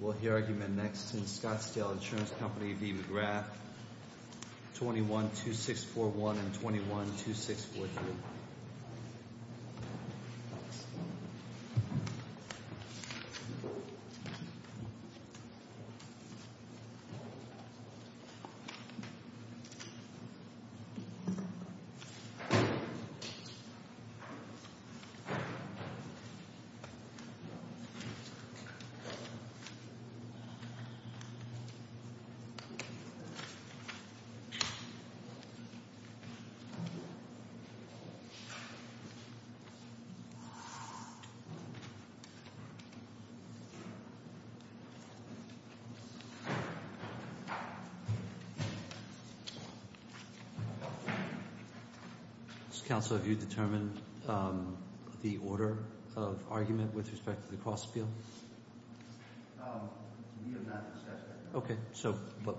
Will the argument next in Scottsdale Insurance Company v. McGrath, 21-2641 and 21-2643. Mr. Counsel, have you determined the order of argument with respect to the cross-appeal? We have not discussed that. I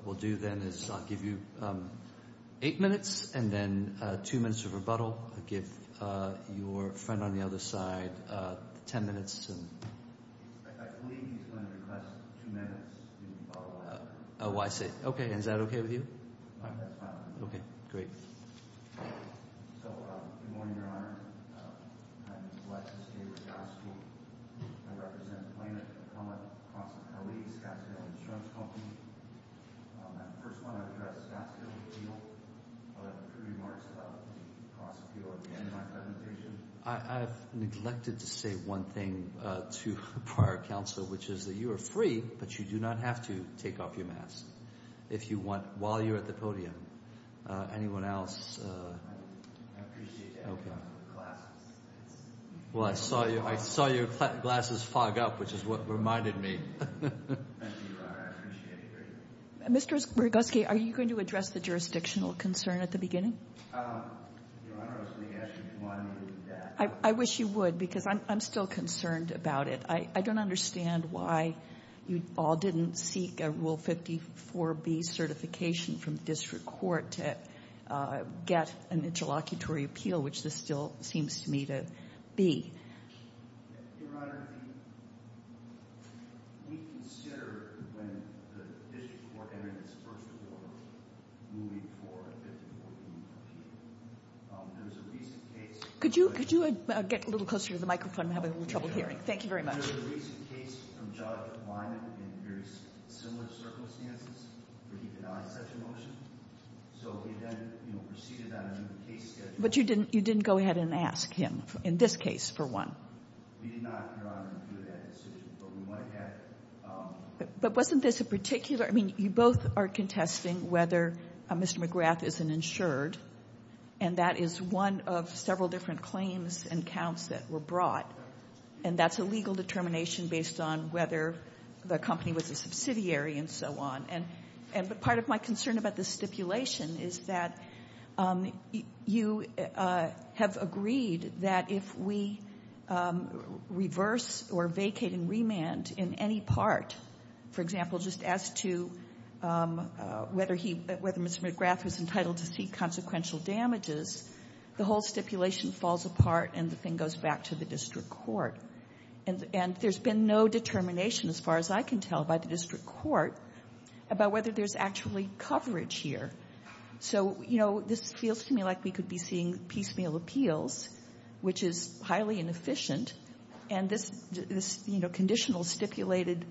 believe he's going to request two minutes to follow up. Good morning, Your Honor. My name is Alexis David Gaskill. I represent the plaintiff, Acoma Cross-Appeal, Scottsdale Insurance Company. I first want to address Gaskill and Peel. I have a few remarks about the cross-appeal at the end of my presentation. I appreciate your glasses. Thank you, Your Honor. I appreciate it very much. Your Honor, I was going to ask you if you wanted me to do that. Could you get a little closer to the microphone? I'm having a little trouble hearing. Thank you very much. But you didn't go ahead and ask him in this case, for one. But wasn't this a particular — I mean, you both are contesting whether Mr. McGrath is an insured, and that is one of several different claims and counts that were brought. And that's a legal determination based on whether the company was a subsidiary and so on. But part of my concern about this stipulation is that you have agreed that if we reverse or vacate and remand in any part, for example, just as to whether Mr. McGrath was entitled to see consequential damages, the whole stipulation falls apart and the thing goes back to the district court. And there's been no determination, as far as I can tell, by the district court about whether there's actually coverage here. So, you know, this feels to me like we could be seeing piecemeal appeals, which is highly inefficient. And this, you know, conditional stipulated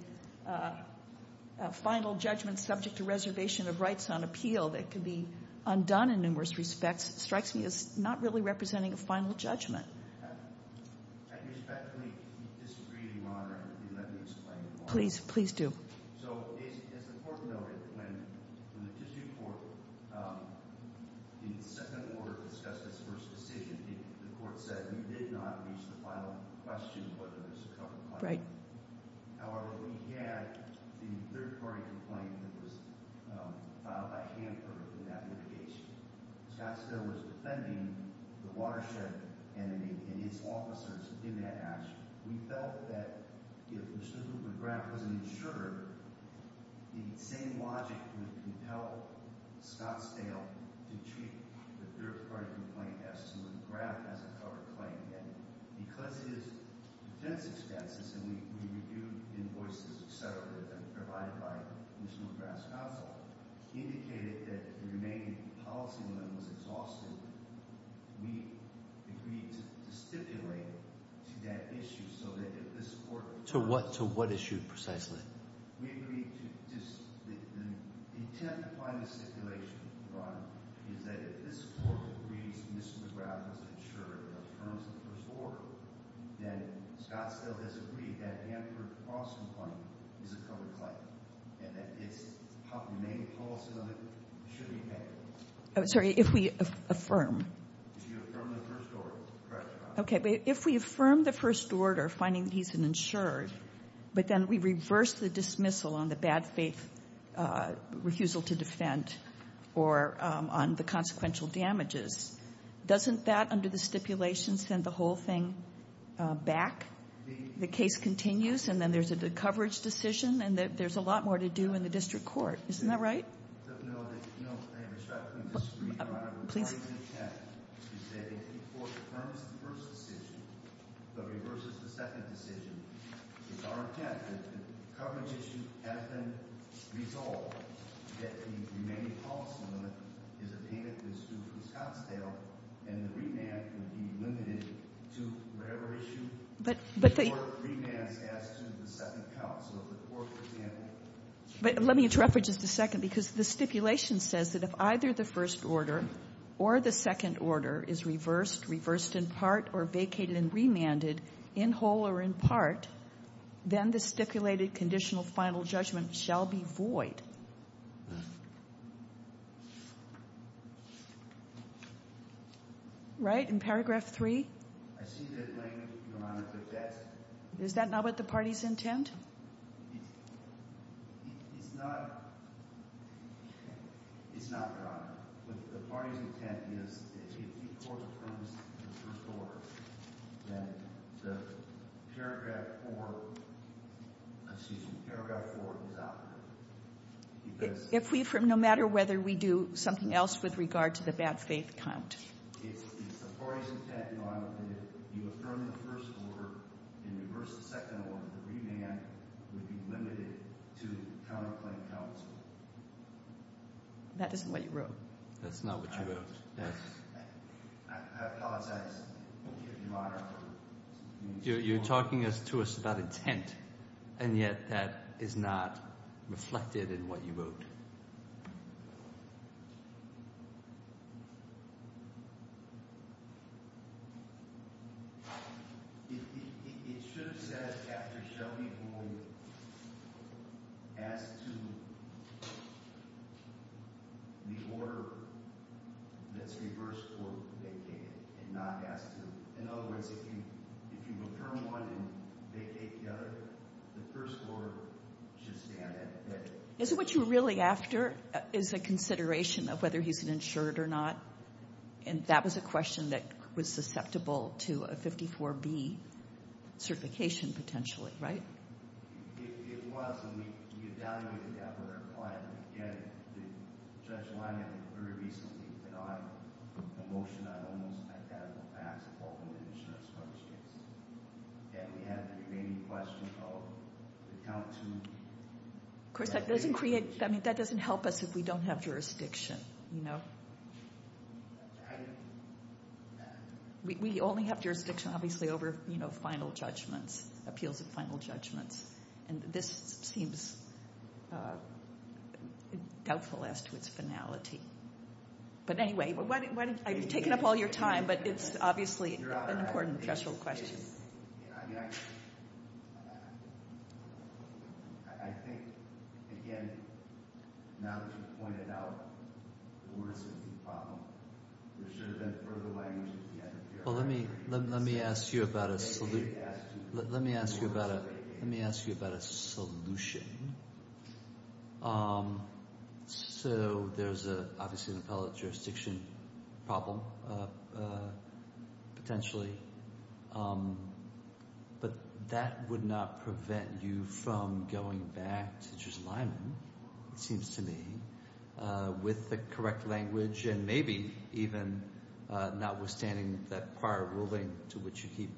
final judgment subject to reservation of rights on appeal that could be undone in numerous respects strikes me as not really representing a final judgment. I respectfully disagree, Your Honor. Let me explain. Please, please do. So, as the court noted, when the district court in the second order discussed this first decision, the court said we did not reach the final question whether there's a cover claim. Right. However, we had the third-party complaint that was filed by Hanford in that litigation. Scottsdale was defending the watershed and his officers in that action. We felt that if Mr. McGrath wasn't insured, the same logic would compel Scottsdale to cheat. The third-party complaint asks if McGrath has a cover claim. And because his defense expenses, and we reviewed invoices, et cetera, that were provided by Mr. McGrath's counsel, indicated that the remaining policy limit was exhausted, we agreed to stipulate to that issue so that if this court— To what issue, precisely? We agreed to—the intent behind the stipulation, Your Honor, is that if this court agrees Mr. McGrath was insured and affirms the first order, then Scottsdale disagreed that Hanford's lawsuit complaint is a cover claim and that his main policy limit should be met. Oh, sorry. If we affirm. If you affirm the first order. Correct, Your Honor. Okay. But if we affirm the first order, finding he's an insured, but then we reverse the dismissal on the bad faith refusal to defend or on the consequential damages, doesn't that, under the stipulation, send the whole thing back? Indeed. The case continues, and then there's a coverage decision, and there's a lot more to do in the district court. Isn't that right? No. I respectfully disagree, Your Honor. Please. My intent is that if the court affirms the first decision but reverses the second decision, it's our intent that the coverage issue has been resolved, that the remaining policy limit is obtained through Scottsdale, and the remand would be limited to whatever issue the court remands as to the second counsel of the court. But let me interrupt for just a second because the stipulation says that if either the first order or the second order is reversed, reversed in part, or vacated and remanded in whole or in part, then the stipulated conditional final judgment shall be void. Right? In paragraph 3? I see that language, Your Honor, but that's not what the party's intent? It's not. It's not, Your Honor. The party's intent is if the court affirms the first order, then the paragraph 4, excuse me, paragraph 4 is out. If we affirm, no matter whether we do something else with regard to the bad faith count? It's the party's intent, Your Honor, that if you affirm the first order and reverse the second order, the remand would be limited to counterclaim counsel. That isn't what you wrote. That's not what you wrote. I apologize, Your Honor. You're talking to us about intent, and yet that is not reflected in what you wrote. It should have said after shall be void, as to the order that's reversed or vacated, and not as to. In other words, if you affirm one and vacate the other, the first order should stand at that. Is it what you're really after is a consideration of whether he's an insured or not? And that was a question that was susceptible to a 54B certification, potentially, right? It was, and we evaluated that with our client. Again, Judge Lyman very recently denied a motion that almost had that in the past, and we had the remaining question of the count to. Of course, that doesn't create, I mean, that doesn't help us if we don't have jurisdiction, you know? We only have jurisdiction, obviously, over, you know, final judgments, appeals of final judgments, and this seems doubtful as to its finality. But anyway, I've taken up all your time, but it's obviously an important threshold question. I think, again, now that you've pointed out the order safety problem, there should have been further language at the end. Well, let me ask you about a solution. So there's obviously an appellate jurisdiction problem, potentially, but that would not prevent you from going back to Judge Lyman, it seems to me, with the correct language and maybe even notwithstanding that prior ruling to which you keep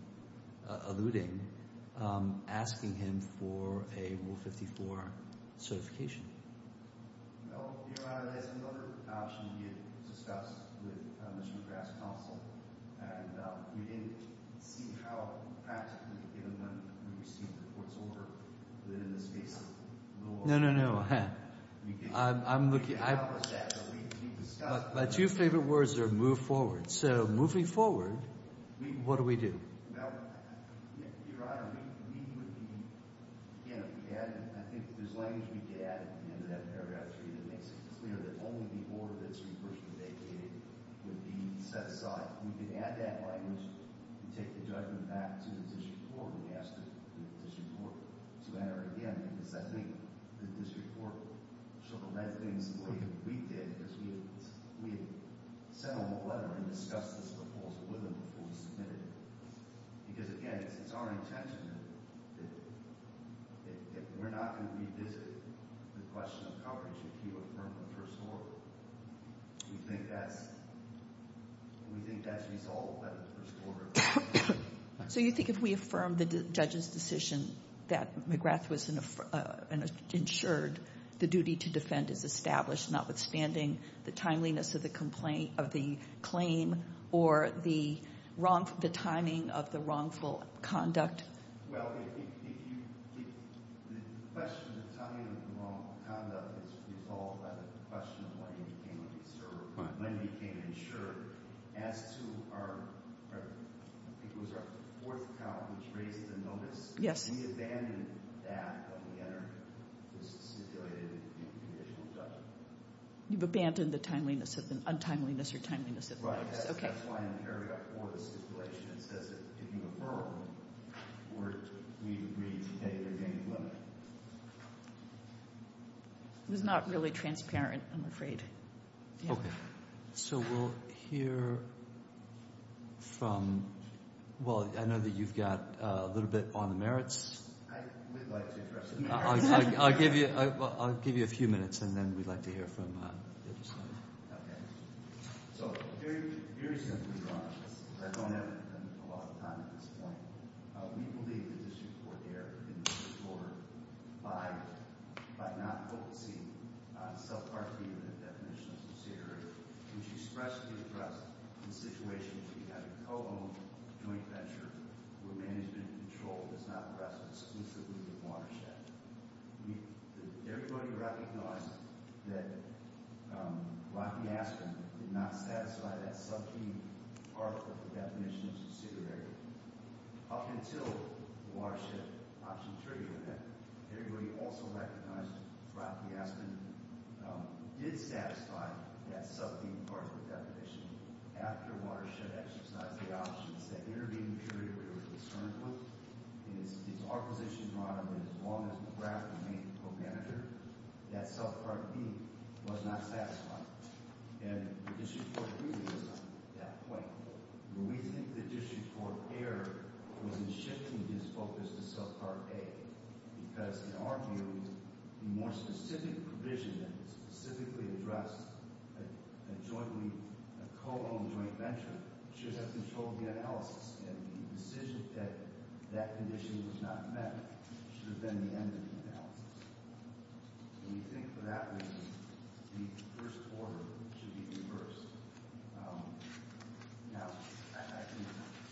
alluding, asking him for a Rule 54 certification. Well, Your Honor, there's another option we had discussed with Mr. McGrath's counsel, and we didn't see how practically, even when we received the report, it's older than in the space of the Rule 54. No, no, no. We can discuss that. My two favorite words are move forward. So moving forward, what do we do? Well, Your Honor, we would be, again, I think there's language we could add at the end of that paragraph 3 that makes it clear that only the order that's recursively vacated would be set aside. We could add that language and take the judgment back to the district court and ask the district court to enter it again, because I think the district court sort of read things the way that we did, because we had sent them a letter and discussed this proposal with them before we submitted it. Because, again, it's our intention that if we're not going to revisit the question of coverage, if you affirm the first order, we think that's resolved by the first order. So you think if we affirm the judge's decision that McGrath was insured, the duty to defend is established, notwithstanding the timeliness of the claim or the timing of the wrongful conduct? Well, the question of the timing of the wrongful conduct is resolved by the question of when he became insured. As to our fourth count, which raised the notice, we abandoned that when we entered this stipulated conditional judgment. You've abandoned the timeliness of the untimeliness or timeliness of the notice. Right. That's why in the paragraph 4 of the stipulation, it says that if you affirm, we agree to pay the game limit. It was not really transparent, I'm afraid. Okay. So we'll hear from – well, I know that you've got a little bit on the merits. I would like to address the merits. I'll give you a few minutes, and then we'd like to hear from the other side. Okay. So very simply, to be honest, I don't have a lot of time at this point. We believe that this report here in the first quarter by not focusing on subpart B of the definition of subsidiary, which expressly addressed the situation where you have a co-owned joint venture where management and control does not rest exclusively on watershed. Everybody recognized that Rocky Aspen did not satisfy that sub-theme part of the definition of subsidiary. Up until the watershed option treaty, everybody also recognized Rocky Aspen did satisfy that sub-theme part of the definition. After watershed exercised the options, that intervening period we were concerned with is our position, Ron, that as long as McGrath remained co-manager, that subpart B was not satisfied. And the issue for the treaty was not at that point. But we think the issue for AIR was in shifting his focus to subpart A because, in our view, the more specific provision that specifically addressed a jointly – a co-owned joint venture should have controlled the analysis. And the decision that that condition was not met should have been the end of the analysis. And we think, for that reason, the first quarter should be reversed. Now, I can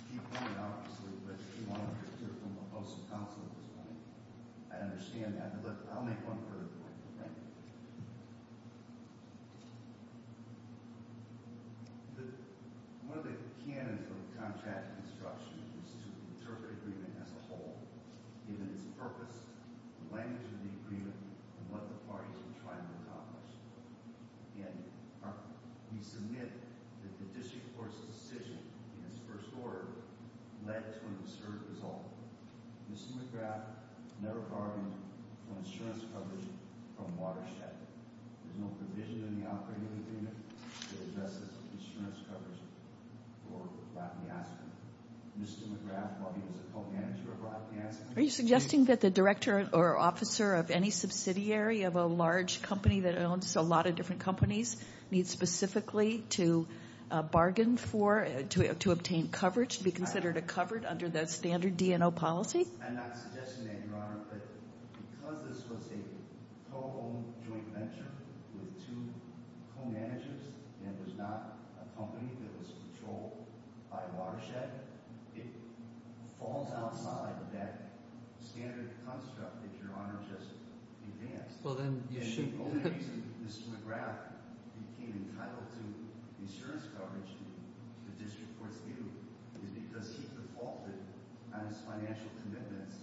keep going, obviously, but if you want to hear from a host of counsel at this point, I understand that, but I'll make one further point. Thank you. One of the canons of contract construction is to interpret agreement as a whole, given its purpose, the language of the agreement, and what the parties will try to accomplish. And we submit that the district court's decision in its first order led to an absurd result. Mr. McGrath never bargained for insurance coverage from Watershed. There's no provision in the operating agreement to address the insurance coverage for Latinasca. Mr. McGrath, while he was a co-manager of Latinasca – Are you suggesting that the director or officer of any subsidiary of a large company that owns a lot of different companies needs specifically to bargain for, to obtain coverage to be considered a covered under the standard DNO policy? I'm not suggesting that, Your Honor, but because this was a co-owned joint venture with two co-managers and it was not a company that was controlled by Watershed, it falls outside that standard construct that Your Honor just advanced. The only reason Mr. McGrath became entitled to insurance coverage in the district court's view is because he defaulted on his financial commitments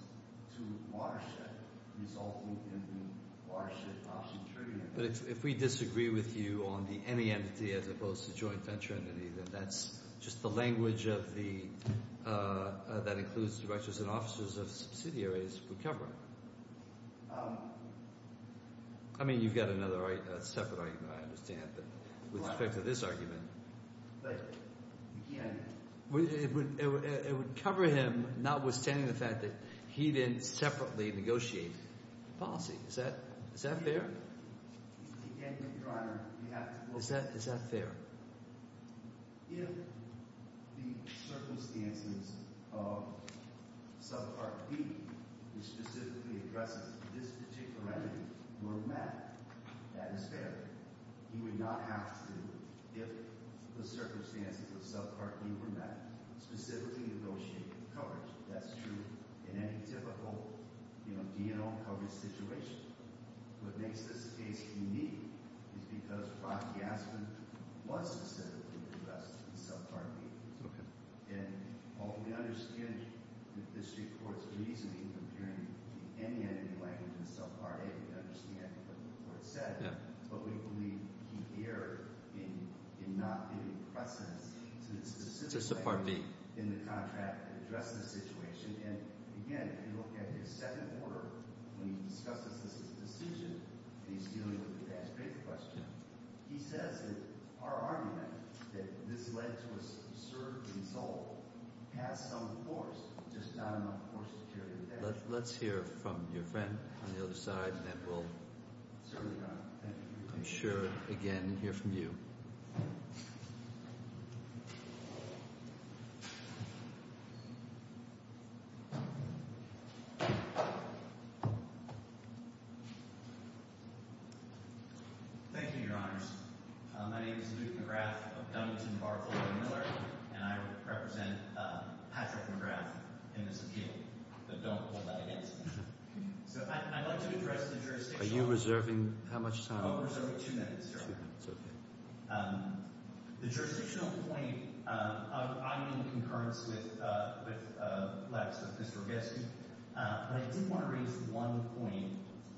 to Watershed, resulting in the Watershed Option Tribunal. But if we disagree with you on the any entity as opposed to joint venture entity, then that's just the language that includes directors and officers of subsidiaries would cover. I mean, you've got another separate argument, I understand, with respect to this argument. But, again – It would cover him, notwithstanding the fact that he didn't separately negotiate the policy. Is that fair? Again, Your Honor, you have to – Is that fair? If the circumstances of subpart D, which specifically addresses this particular entity, were met, that is fair. He would not have to, if the circumstances of subpart D were met, specifically negotiate coverage. That's true in any typical, you know, DNO coverage situation. What makes this case unique is because Brock Gassman was specifically addressed in subpart D. Okay. And we understand the district court's reasoning comparing any entity language in subpart A. We understand what the court said. Yeah. But we believe he erred in not giving precedence to the specific language in the contract that addressed the situation. And, again, if you look at his second order, when he discusses this as a decision, and he's dealing with the advanced paper question, he says that our argument, that this led to a certain result, has some force, just not enough force to carry the case. Let's hear from your friend on the other side, and then we'll – Certainly, Your Honor. I'm sure, again, hear from you. Thank you, Your Honors. My name is Luke McGrath of Dumbarton Bar-Ford & Miller, and I represent Patrick McGrath in this appeal. But don't hold that against me. So I'd like to address the jurisdiction. Are you reserving how much time? I'm reserving two minutes, Your Honor. Two minutes, okay. The jurisdictional point – I'm in concurrence with Laps, with Mr. Orgetsky, but I did want to raise one point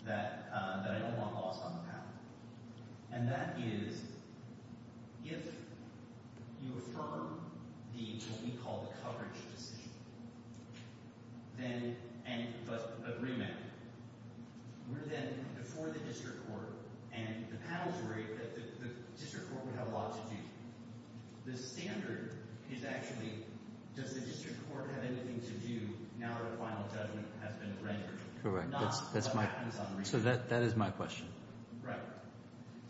that I don't want lost on the panel, and that is if you affirm the – what we call the coverage decision, then – but remand it, we're then before the district court, and the panel's worried that the district court would have a lot to do. The standard is actually, does the district court have anything to do now that a final judgment has been rendered? Correct. Not what happens on the reading. So that is my question. Right.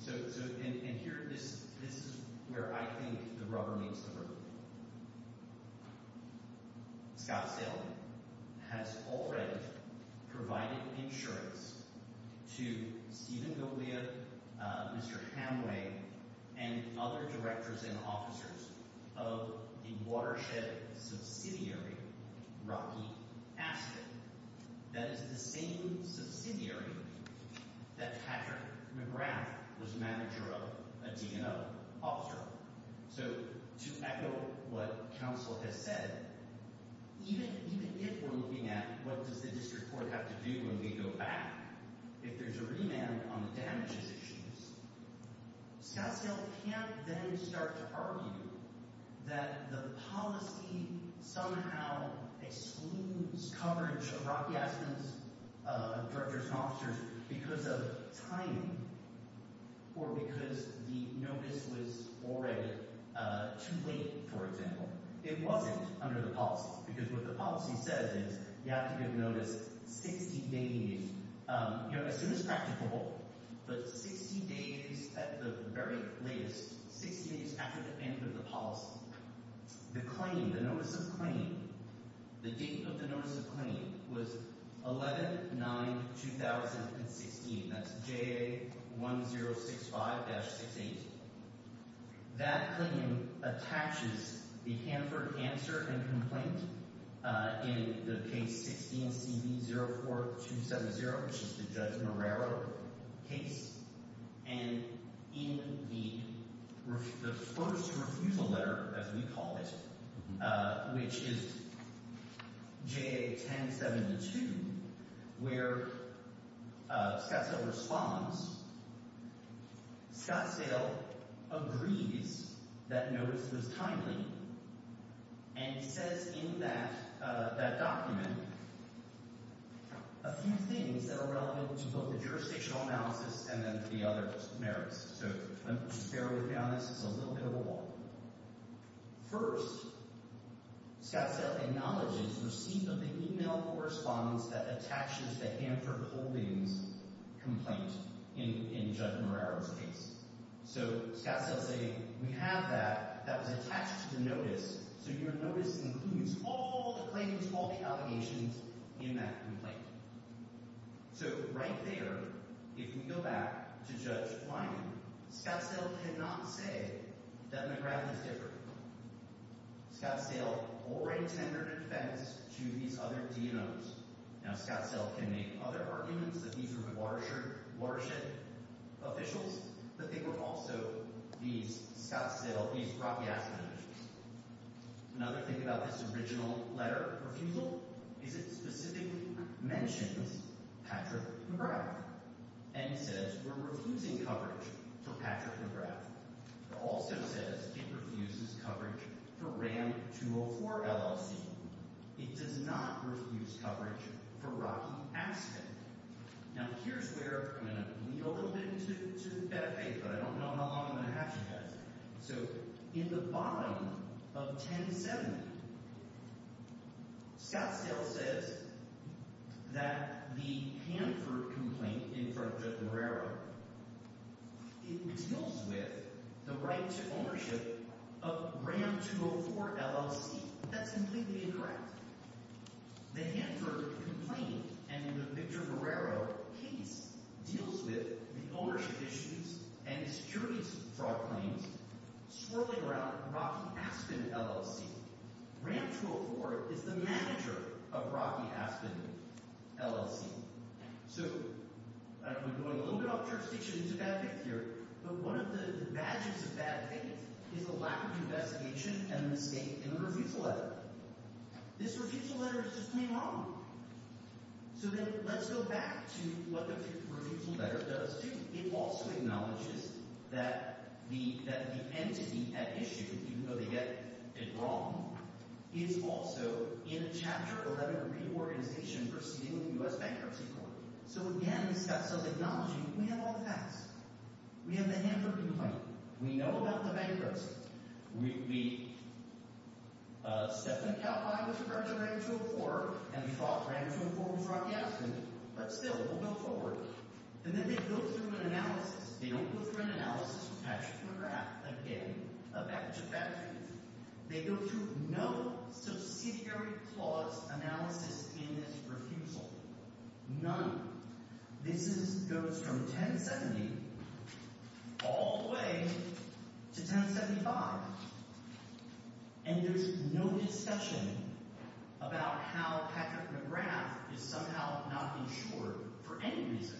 So – and here, this is where I think the rubber meets the road. Scott Salem has already provided insurance to Stephen Golia, Mr. Hamway, and other directors and officers of the watershed subsidiary Rocky Aspen. That is the same subsidiary that Patrick McGrath was manager of, a DNO officer of. So to echo what counsel has said, even if we're looking at what does the district court have to do when we go back, if there's a remand on the damages issues, Scott Salem can't then start to argue that the policy somehow excludes coverage of Rocky Aspen's directors and officers because of timing or because the notice was already too late, for example. It wasn't under the policy because what the policy says is you have to give notice 60 days – as soon as practicable, but 60 days at the very latest, 60 days after the end of the policy. The claim, the notice of claim, the date of the notice of claim was 11-9-2016. That's JA1065-68. That claim attaches the Hanford answer and complaint in the case 16CB04270, which is the Judge Marrero case. And in the first refusal letter, as we call it, which is JA1072, where Scottsdale responds, Scottsdale agrees that notice was timely, and he says in that document a few things that are relevant to both the jurisdictional analysis and then to the other merits. So let me just bear with you on this. It's a little bit of a walk. First, Scottsdale acknowledges receipt of the email correspondence that attaches the Hanford holdings complaint in Judge Marrero's case. So Scottsdale is saying we have that. That was attached to the notice, so your notice includes all the claims, all the allegations in that complaint. So right there, if we go back to Judge Wyden, Scottsdale cannot say that McGrath is different. Scottsdale already tendered a defense to these other DNOs. Now, Scottsdale can make other arguments that these were Watershed officials, but they were also these Scottsdale, these Rocky Aspen officials. Another thing about this original letter of refusal is it specifically mentions Patrick McGrath and says we're refusing coverage for Patrick McGrath. It also says it refuses coverage for RAM 204 LLC. It does not refuse coverage for Rocky Aspen. Now, here's where I'm going to lead a little bit into benefit, but I don't know how long I'm going to have you guys. So in the bottom of 1070, Scottsdale says that the Hanford complaint in front of Judge Marrero, it deals with the right to ownership of RAM 204 LLC. That's completely incorrect. The Hanford complaint and the Victor Marrero case deals with the ownership issues and securities fraud claims swirling around Rocky Aspen LLC. RAM 204 is the manager of Rocky Aspen LLC. So I'm going a little bit off jurisdiction into bad faith here, but one of the badges of bad faith is the lack of investigation and the mistake in the refusal letter. This refusal letter is just plain wrong. So then let's go back to what the refusal letter does, too. It also acknowledges that the entity at issue, even though they get it wrong, is also in a Chapter 11 reorganization proceeding with the U.S. Bankruptcy Court. So again, Scottsdale is acknowledging we have all the facts. We have the Hanford complaint. We know about the bankruptcy. We stepped in and got by with regards to RAM 204, and we thought RAM 204 was Rocky Aspen. But still, we'll go forward. And then they go through an analysis. They don't go through an analysis attached to a graph, again, a badge of bad faith. They go through no subsidiary clause analysis in this refusal, none. This goes from 1070 all the way to 1075, and there's no discussion about how Patrick McGrath is somehow not insured for any reason.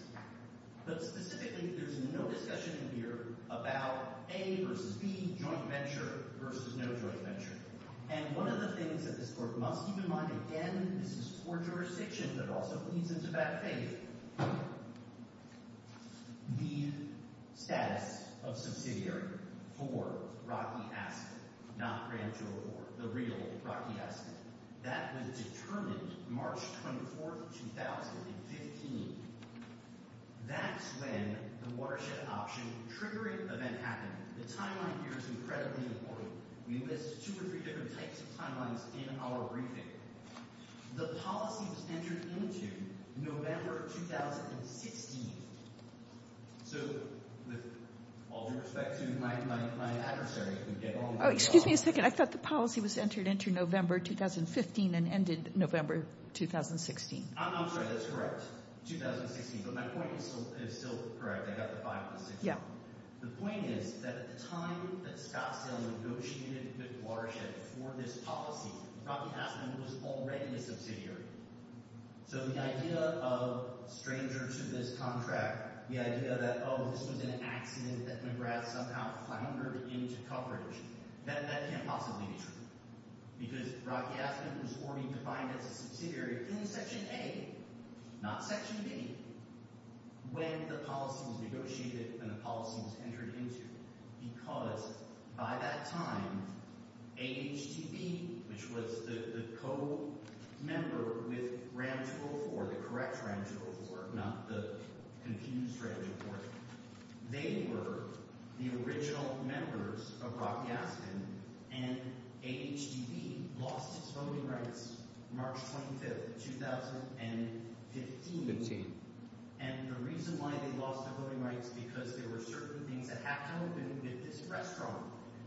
But specifically, there's no discussion here about A versus B, joint venture versus no joint venture. And one of the things that this court must keep in mind, again, this is poor jurisdiction, but also leads into bad faith, the status of subsidiary for Rocky Aspen, not RAM 204, the real Rocky Aspen. That was determined March 24, 2015. That's when the watershed option triggering event happened. The timeline here is incredibly important. We list two or three different types of timelines in our briefing. The policy was entered into November 2016. So with all due respect to my adversary, if we get on with it. Oh, excuse me a second. I thought the policy was entered into November 2015 and ended November 2016. I'm sorry. That's correct. 2016. But my point is still correct. I got the five plus six. Yeah. The point is that at the time that Scottsdale negotiated the watershed for this policy, Rocky Aspen was already a subsidiary. So the idea of stranger to this contract, the idea that, oh, this was an accident that McGrath somehow hindered into coverage, that can't possibly be true. Because Rocky Aspen was already defined as a subsidiary in Section A, not Section B, when the policy was negotiated and the policy was entered into. Because by that time, AHTB, which was the co-member with RAM 204, the correct RAM 204, not the confused RAM 204, they were the original members of Rocky Aspen, and AHTB lost its voting rights March 25, 2015. And the reason why they lost their voting rights, because there were certain things that had to open with this restaurant.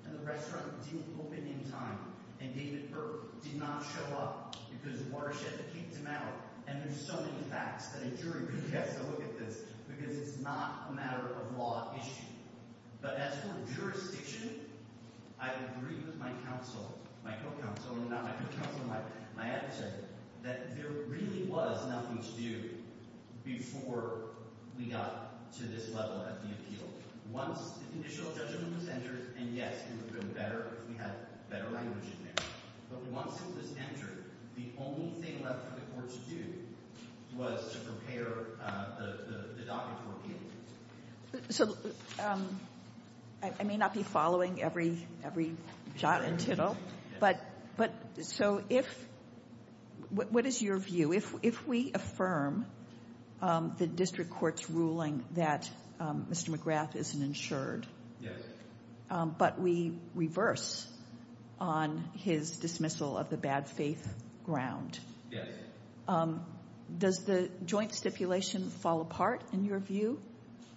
And the restaurant didn't open in time. And David Burke did not show up because the watershed kicked him out. And there's so many facts that a jury really has to look at this, because it's not a matter of law issue. But as for jurisdiction, I agree with my counsel, my co-counsel, not my co-counsel, my editor, that there really was nothing to do before we got to this level of the appeal. Once the initial judgment was entered, and yes, it would have been better if we had better language in there. But once it was entered, the only thing left for the courts to do was to prepare the docket for appeal. So I may not be following every jot and tittle. But so if – what is your view? If we affirm the district court's ruling that Mr. McGrath isn't insured, but we reverse on his dismissal of the bad faith ground, does the joint stipulation fall apart in your view,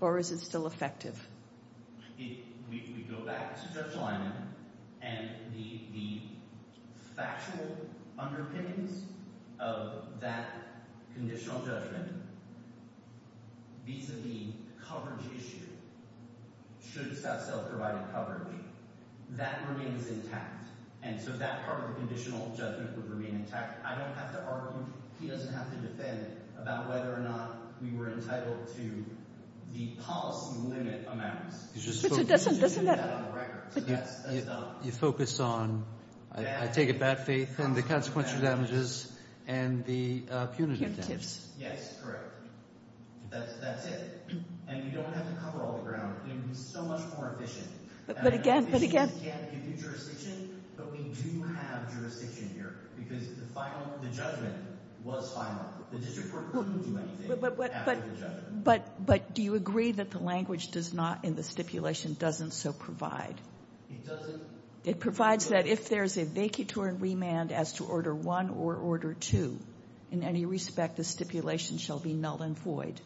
or is it still effective? If we go back to Judge Lyman and the factual underpinnings of that conditional judgment, vis-a-vis coverage issue, should self-provided coverage, that remains intact. And so that part of the conditional judgment would remain intact. I don't have to argue. He doesn't have to defend about whether or not we were entitled to the policy limit amounts. But it doesn't – doesn't that – You focus on, I take it, bad faith and the consequential damages and the punitive damages. Punitives. Yes, correct. That's it. And you don't have to cover all the ground. It would be so much more efficient. But again – but again – The judgment was final. The district court couldn't do anything after the judgment. But do you agree that the language does not in the stipulation doesn't so provide? It doesn't. It provides that if there's a vacatory remand as to Order 1 or Order 2, in any respect the stipulation shall be null and void.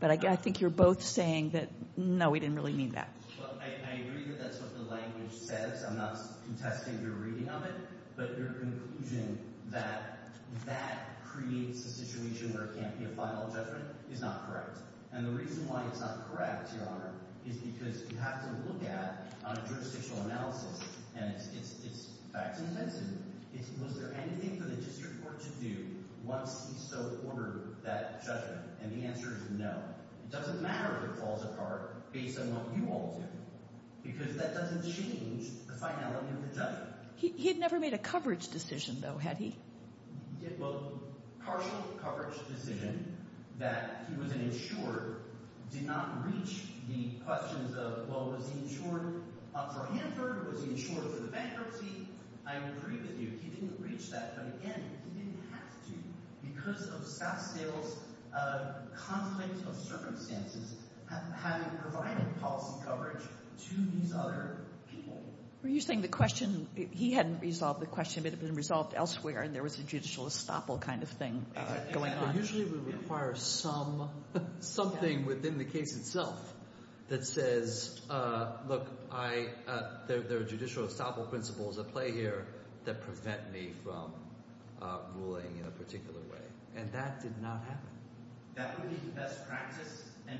But I think you're both saying that, no, we didn't really mean that. Well, I agree that that's what the language says. I'm not contesting your reading of it. But your conclusion that that creates a situation where it can't be a final judgment is not correct. And the reason why it's not correct, Your Honor, is because you have to look at it on a jurisdictional analysis. And it's facts and offenses. Was there anything for the district court to do once he so ordered that judgment? And the answer is no. It doesn't matter if it falls apart based on what you all do. Because that doesn't change the finality of the judgment. He had never made a coverage decision, though, had he? Well, partial coverage decision that he was an insurer did not reach the questions of, well, was he insured for Hanford? Was he insured for the bankruptcy? I agree with you. He didn't reach that. But, again, he didn't have to because of SaskSales' conflict of circumstances having provided policy coverage to these other people. Were you saying the question, he hadn't resolved the question, but it had been resolved elsewhere and there was a judicial estoppel kind of thing going on? Usually we require something within the case itself that says, look, there are judicial estoppel principles at play here that prevent me from ruling in a particular way. And that did not happen. That would be the best practice. And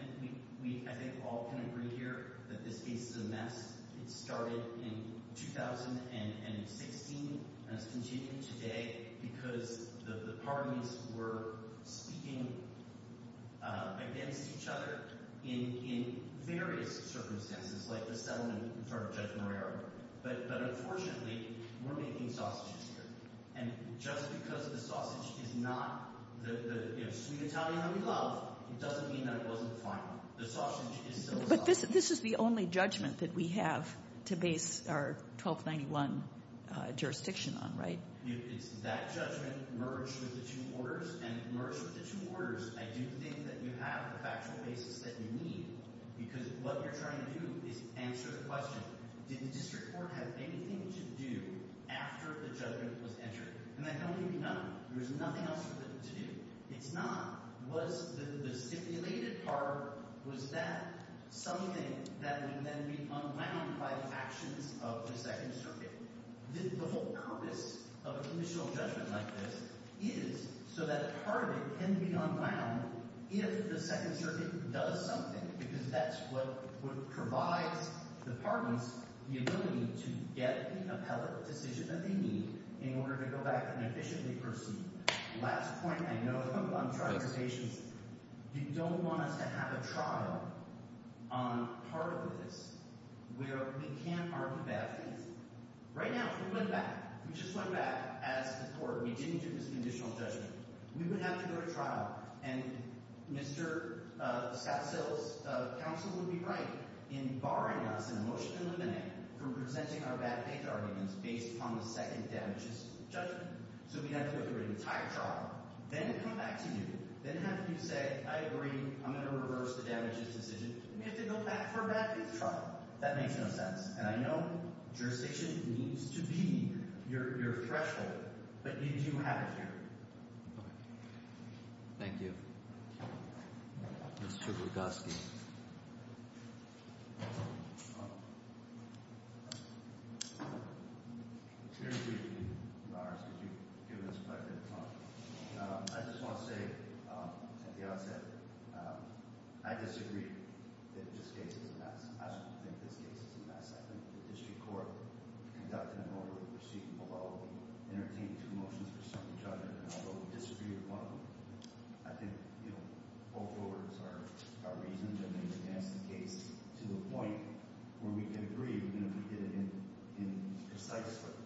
we, I think, all can agree here that this case is a mess. It started in 2016 and has continued today because the parties were speaking against each other in various circumstances, like the settlement in front of Judge Moreira. But, unfortunately, we're making sausages here. And just because the sausage is not the sweet Italian that we love, it doesn't mean that it wasn't fine. The sausage is still sausage. So this is the only judgment that we have to base our 1291 jurisdiction on, right? It's that judgment merged with the two orders. And merged with the two orders, I do think that you have the factual basis that you need because what you're trying to do is answer the question, did the district court have anything to do after the judgment was entered? And I don't think it did not. There was nothing else for it to do. It's not. The stipulated part, was that something that would then be unwound by the actions of the Second Circuit? The whole purpose of an initial judgment like this is so that part of it can be unwound if the Second Circuit does something because that's what would provide the parties the ability to get the appellate decision that they need in order to go back and efficiently proceed. Last point. I know I'm trying to be patient. You don't want us to have a trial on part of this where we can't argue bad things. Right now, if we went back, if we just went back as the court, we didn't do this conditional judgment, we would have to go to trial. And Mr. Sassil's counsel would be right in barring us in a motion to eliminate from presenting our bad page arguments based upon the second damages judgment. So we have to go through an entire trial, then come back to you, then have you say, I agree, I'm going to reverse the damages decision, and we have to go back for a bad page trial. That makes no sense. And I know jurisdiction needs to be your threshold, but you do have it here. Thank you. Mr. Lugoski. I just want to say at the outset, I disagree that this case is a mess. I don't think this case is a mess. I think the district court conducted an orderly proceeding, although we entertained two motions for some judgment, and although we disagreed with one of them, I think both orders are reason to advance the case to the point where we can agree, even if we did it in precise, but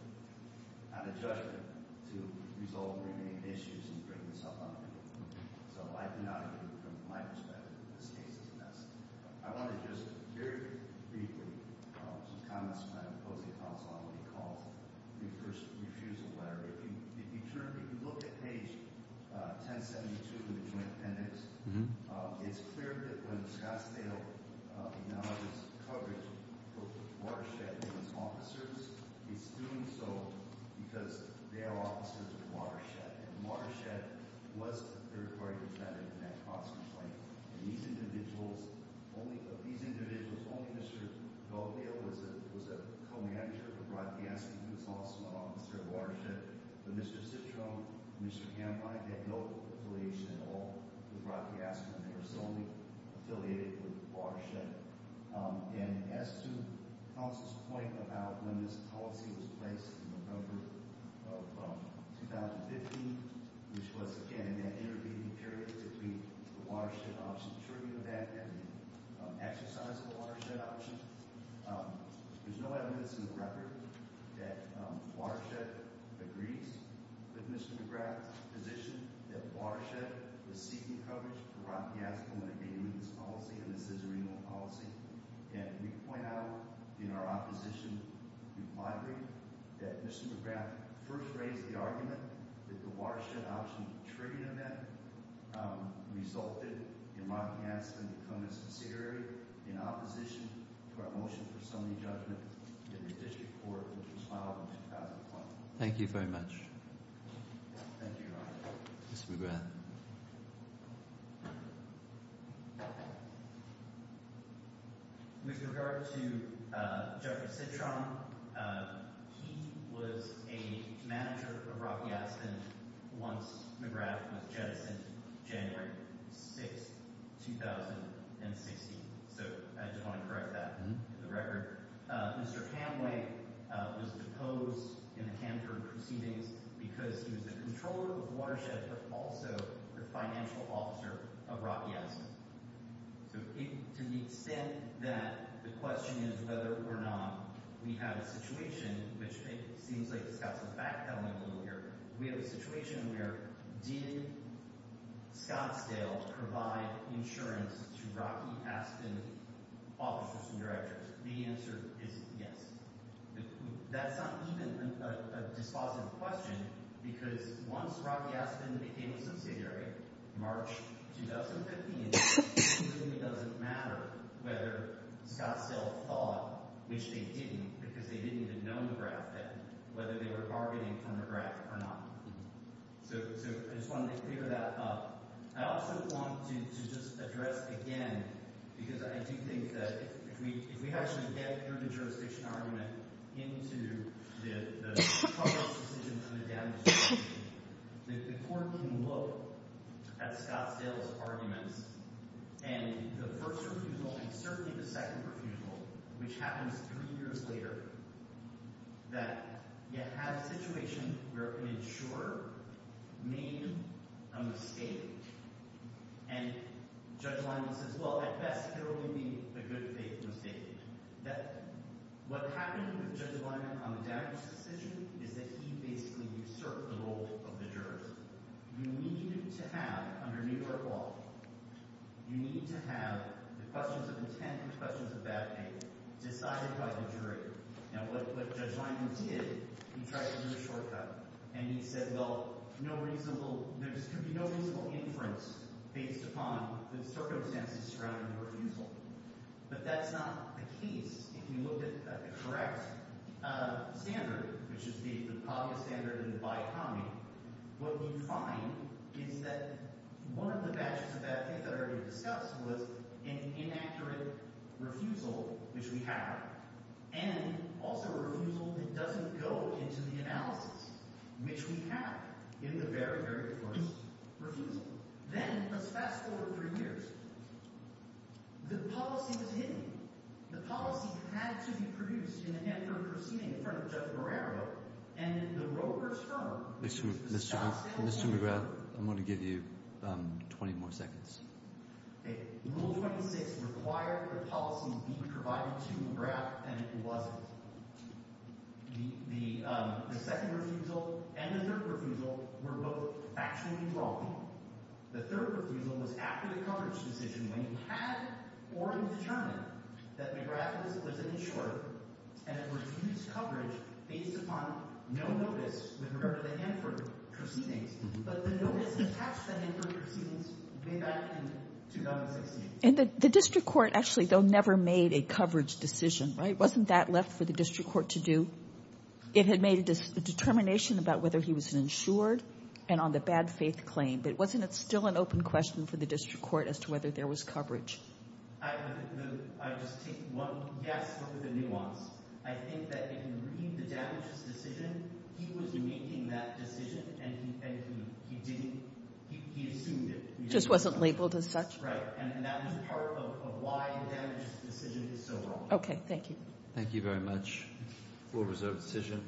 not a judgment, to resolve remaining issues and bring this up on the table. So I do not agree from my perspective that this case is a mess. I want to just very briefly, some comments from my opposing counsel on what he calls the first refusal letter. If you look at page 1072 of the joint appendix, it's clear that when Scottsdale acknowledges coverage of Watershed and its officers, it's doing so because they are officers of Watershed, and Watershed was a third-party contender in that constant complaint. And these individuals, only Mr. Gaudio was a co-manager of Rod Piasma, who was also an officer of Watershed, but Mr. Citrone and Mr. Gambai had no affiliation at all with Rod Piasma. They were solely affiliated with Watershed. And as to counsel's point about when this policy was placed in November of 2015, which was, again, that intervening period between the Watershed option, I'm sure you know that, and the exercise of the Watershed option, there's no evidence in the record that Watershed agrees with Mr. McGrath's position that Watershed was seeking coverage for Rod Piasma when it came to this policy, and this is a renewal policy. And we point out in our opposition that Mr. McGrath first raised the argument that the Watershed option trade event resulted in Rod Piasma becoming a subsidiary in opposition to our motion for summary judgment in the district court, which was filed in 2012. Thank you very much. Thank you, Your Honor. Mr. McGrath. With regard to Judge Citrone, he was a manager of Rod Piasma once McGrath was jettisoned January 6, 2016. So I just want to correct that in the record. Mr. Gambai was deposed in the Canter proceedings because he was the controller of Watershed, but also the financial officer of Rod Piasma. So to the extent that the question is whether or not we have a situation, which it seems like Scott's backpedaling a little here, we have a situation where did Scottsdale provide insurance to Rod Piasma's officers and directors? The answer is yes. That's not even a dispositive question because once Rod Piasma became a subsidiary, March 2015, it really doesn't matter whether Scottsdale thought, which they didn't, because they didn't even know McGrath then, whether they were bargaining for McGrath or not. So I just wanted to clear that up. I also want to just address again, because I do think that if we actually get through the jurisdiction argument into the cover-up decisions and the damages, the court can look at Scottsdale's arguments and the first refusal and certainly the second refusal, which happens three years later, that you have a situation where an insurer made a mistake and Judge Lyman says, well, at best, it will only be a good faith mistake. What happened with Judge Lyman on the damages decision is that he basically usurped the role of the jurors. You needed to have, under New York law, you needed to have the questions of intent and questions of bad faith decided by the jury. And what Judge Lyman did, he tried to do a shortcut, and he said, well, there could be no reasonable inference based upon the circumstances surrounding the refusal. But that's not the case. If you look at the correct standard, which is the obvious standard in the by economy, what we find is that one of the matches of bad faith that I already discussed was an inaccurate refusal, which we have, and also a refusal that doesn't go into the analysis, which we have in the very, very first refusal. Then, let's fast forward three years. The policy was hidden. The policy had to be produced in an effort proceeding in front of Judge Marrero, and the broker's firm was shot down. Mr. McGrath, I'm going to give you 20 more seconds. Rule 26 required the policy be provided to McGrath, and it wasn't. The second refusal and the third refusal were both actually wrong. The third refusal was after the coverage decision when you had or determined that McGrath was an insurer and had refused coverage based upon no notice with regard to the Hanford proceedings, but the notice attached to the Hanford proceedings came back in 2016. And the district court actually, though, never made a coverage decision, right? For the district court to do. It had made a determination about whether he was an insured and on the bad faith claim, but wasn't it still an open question for the district court as to whether there was coverage? I just take one guess with the nuance. I think that if you read the damages decision, he was making that decision, and he didn't. He assumed it. Just wasn't labeled as such? Right, and that was part of why the damages decision is so wrong. Okay, thank you. Thank you very much. Court is adjourned.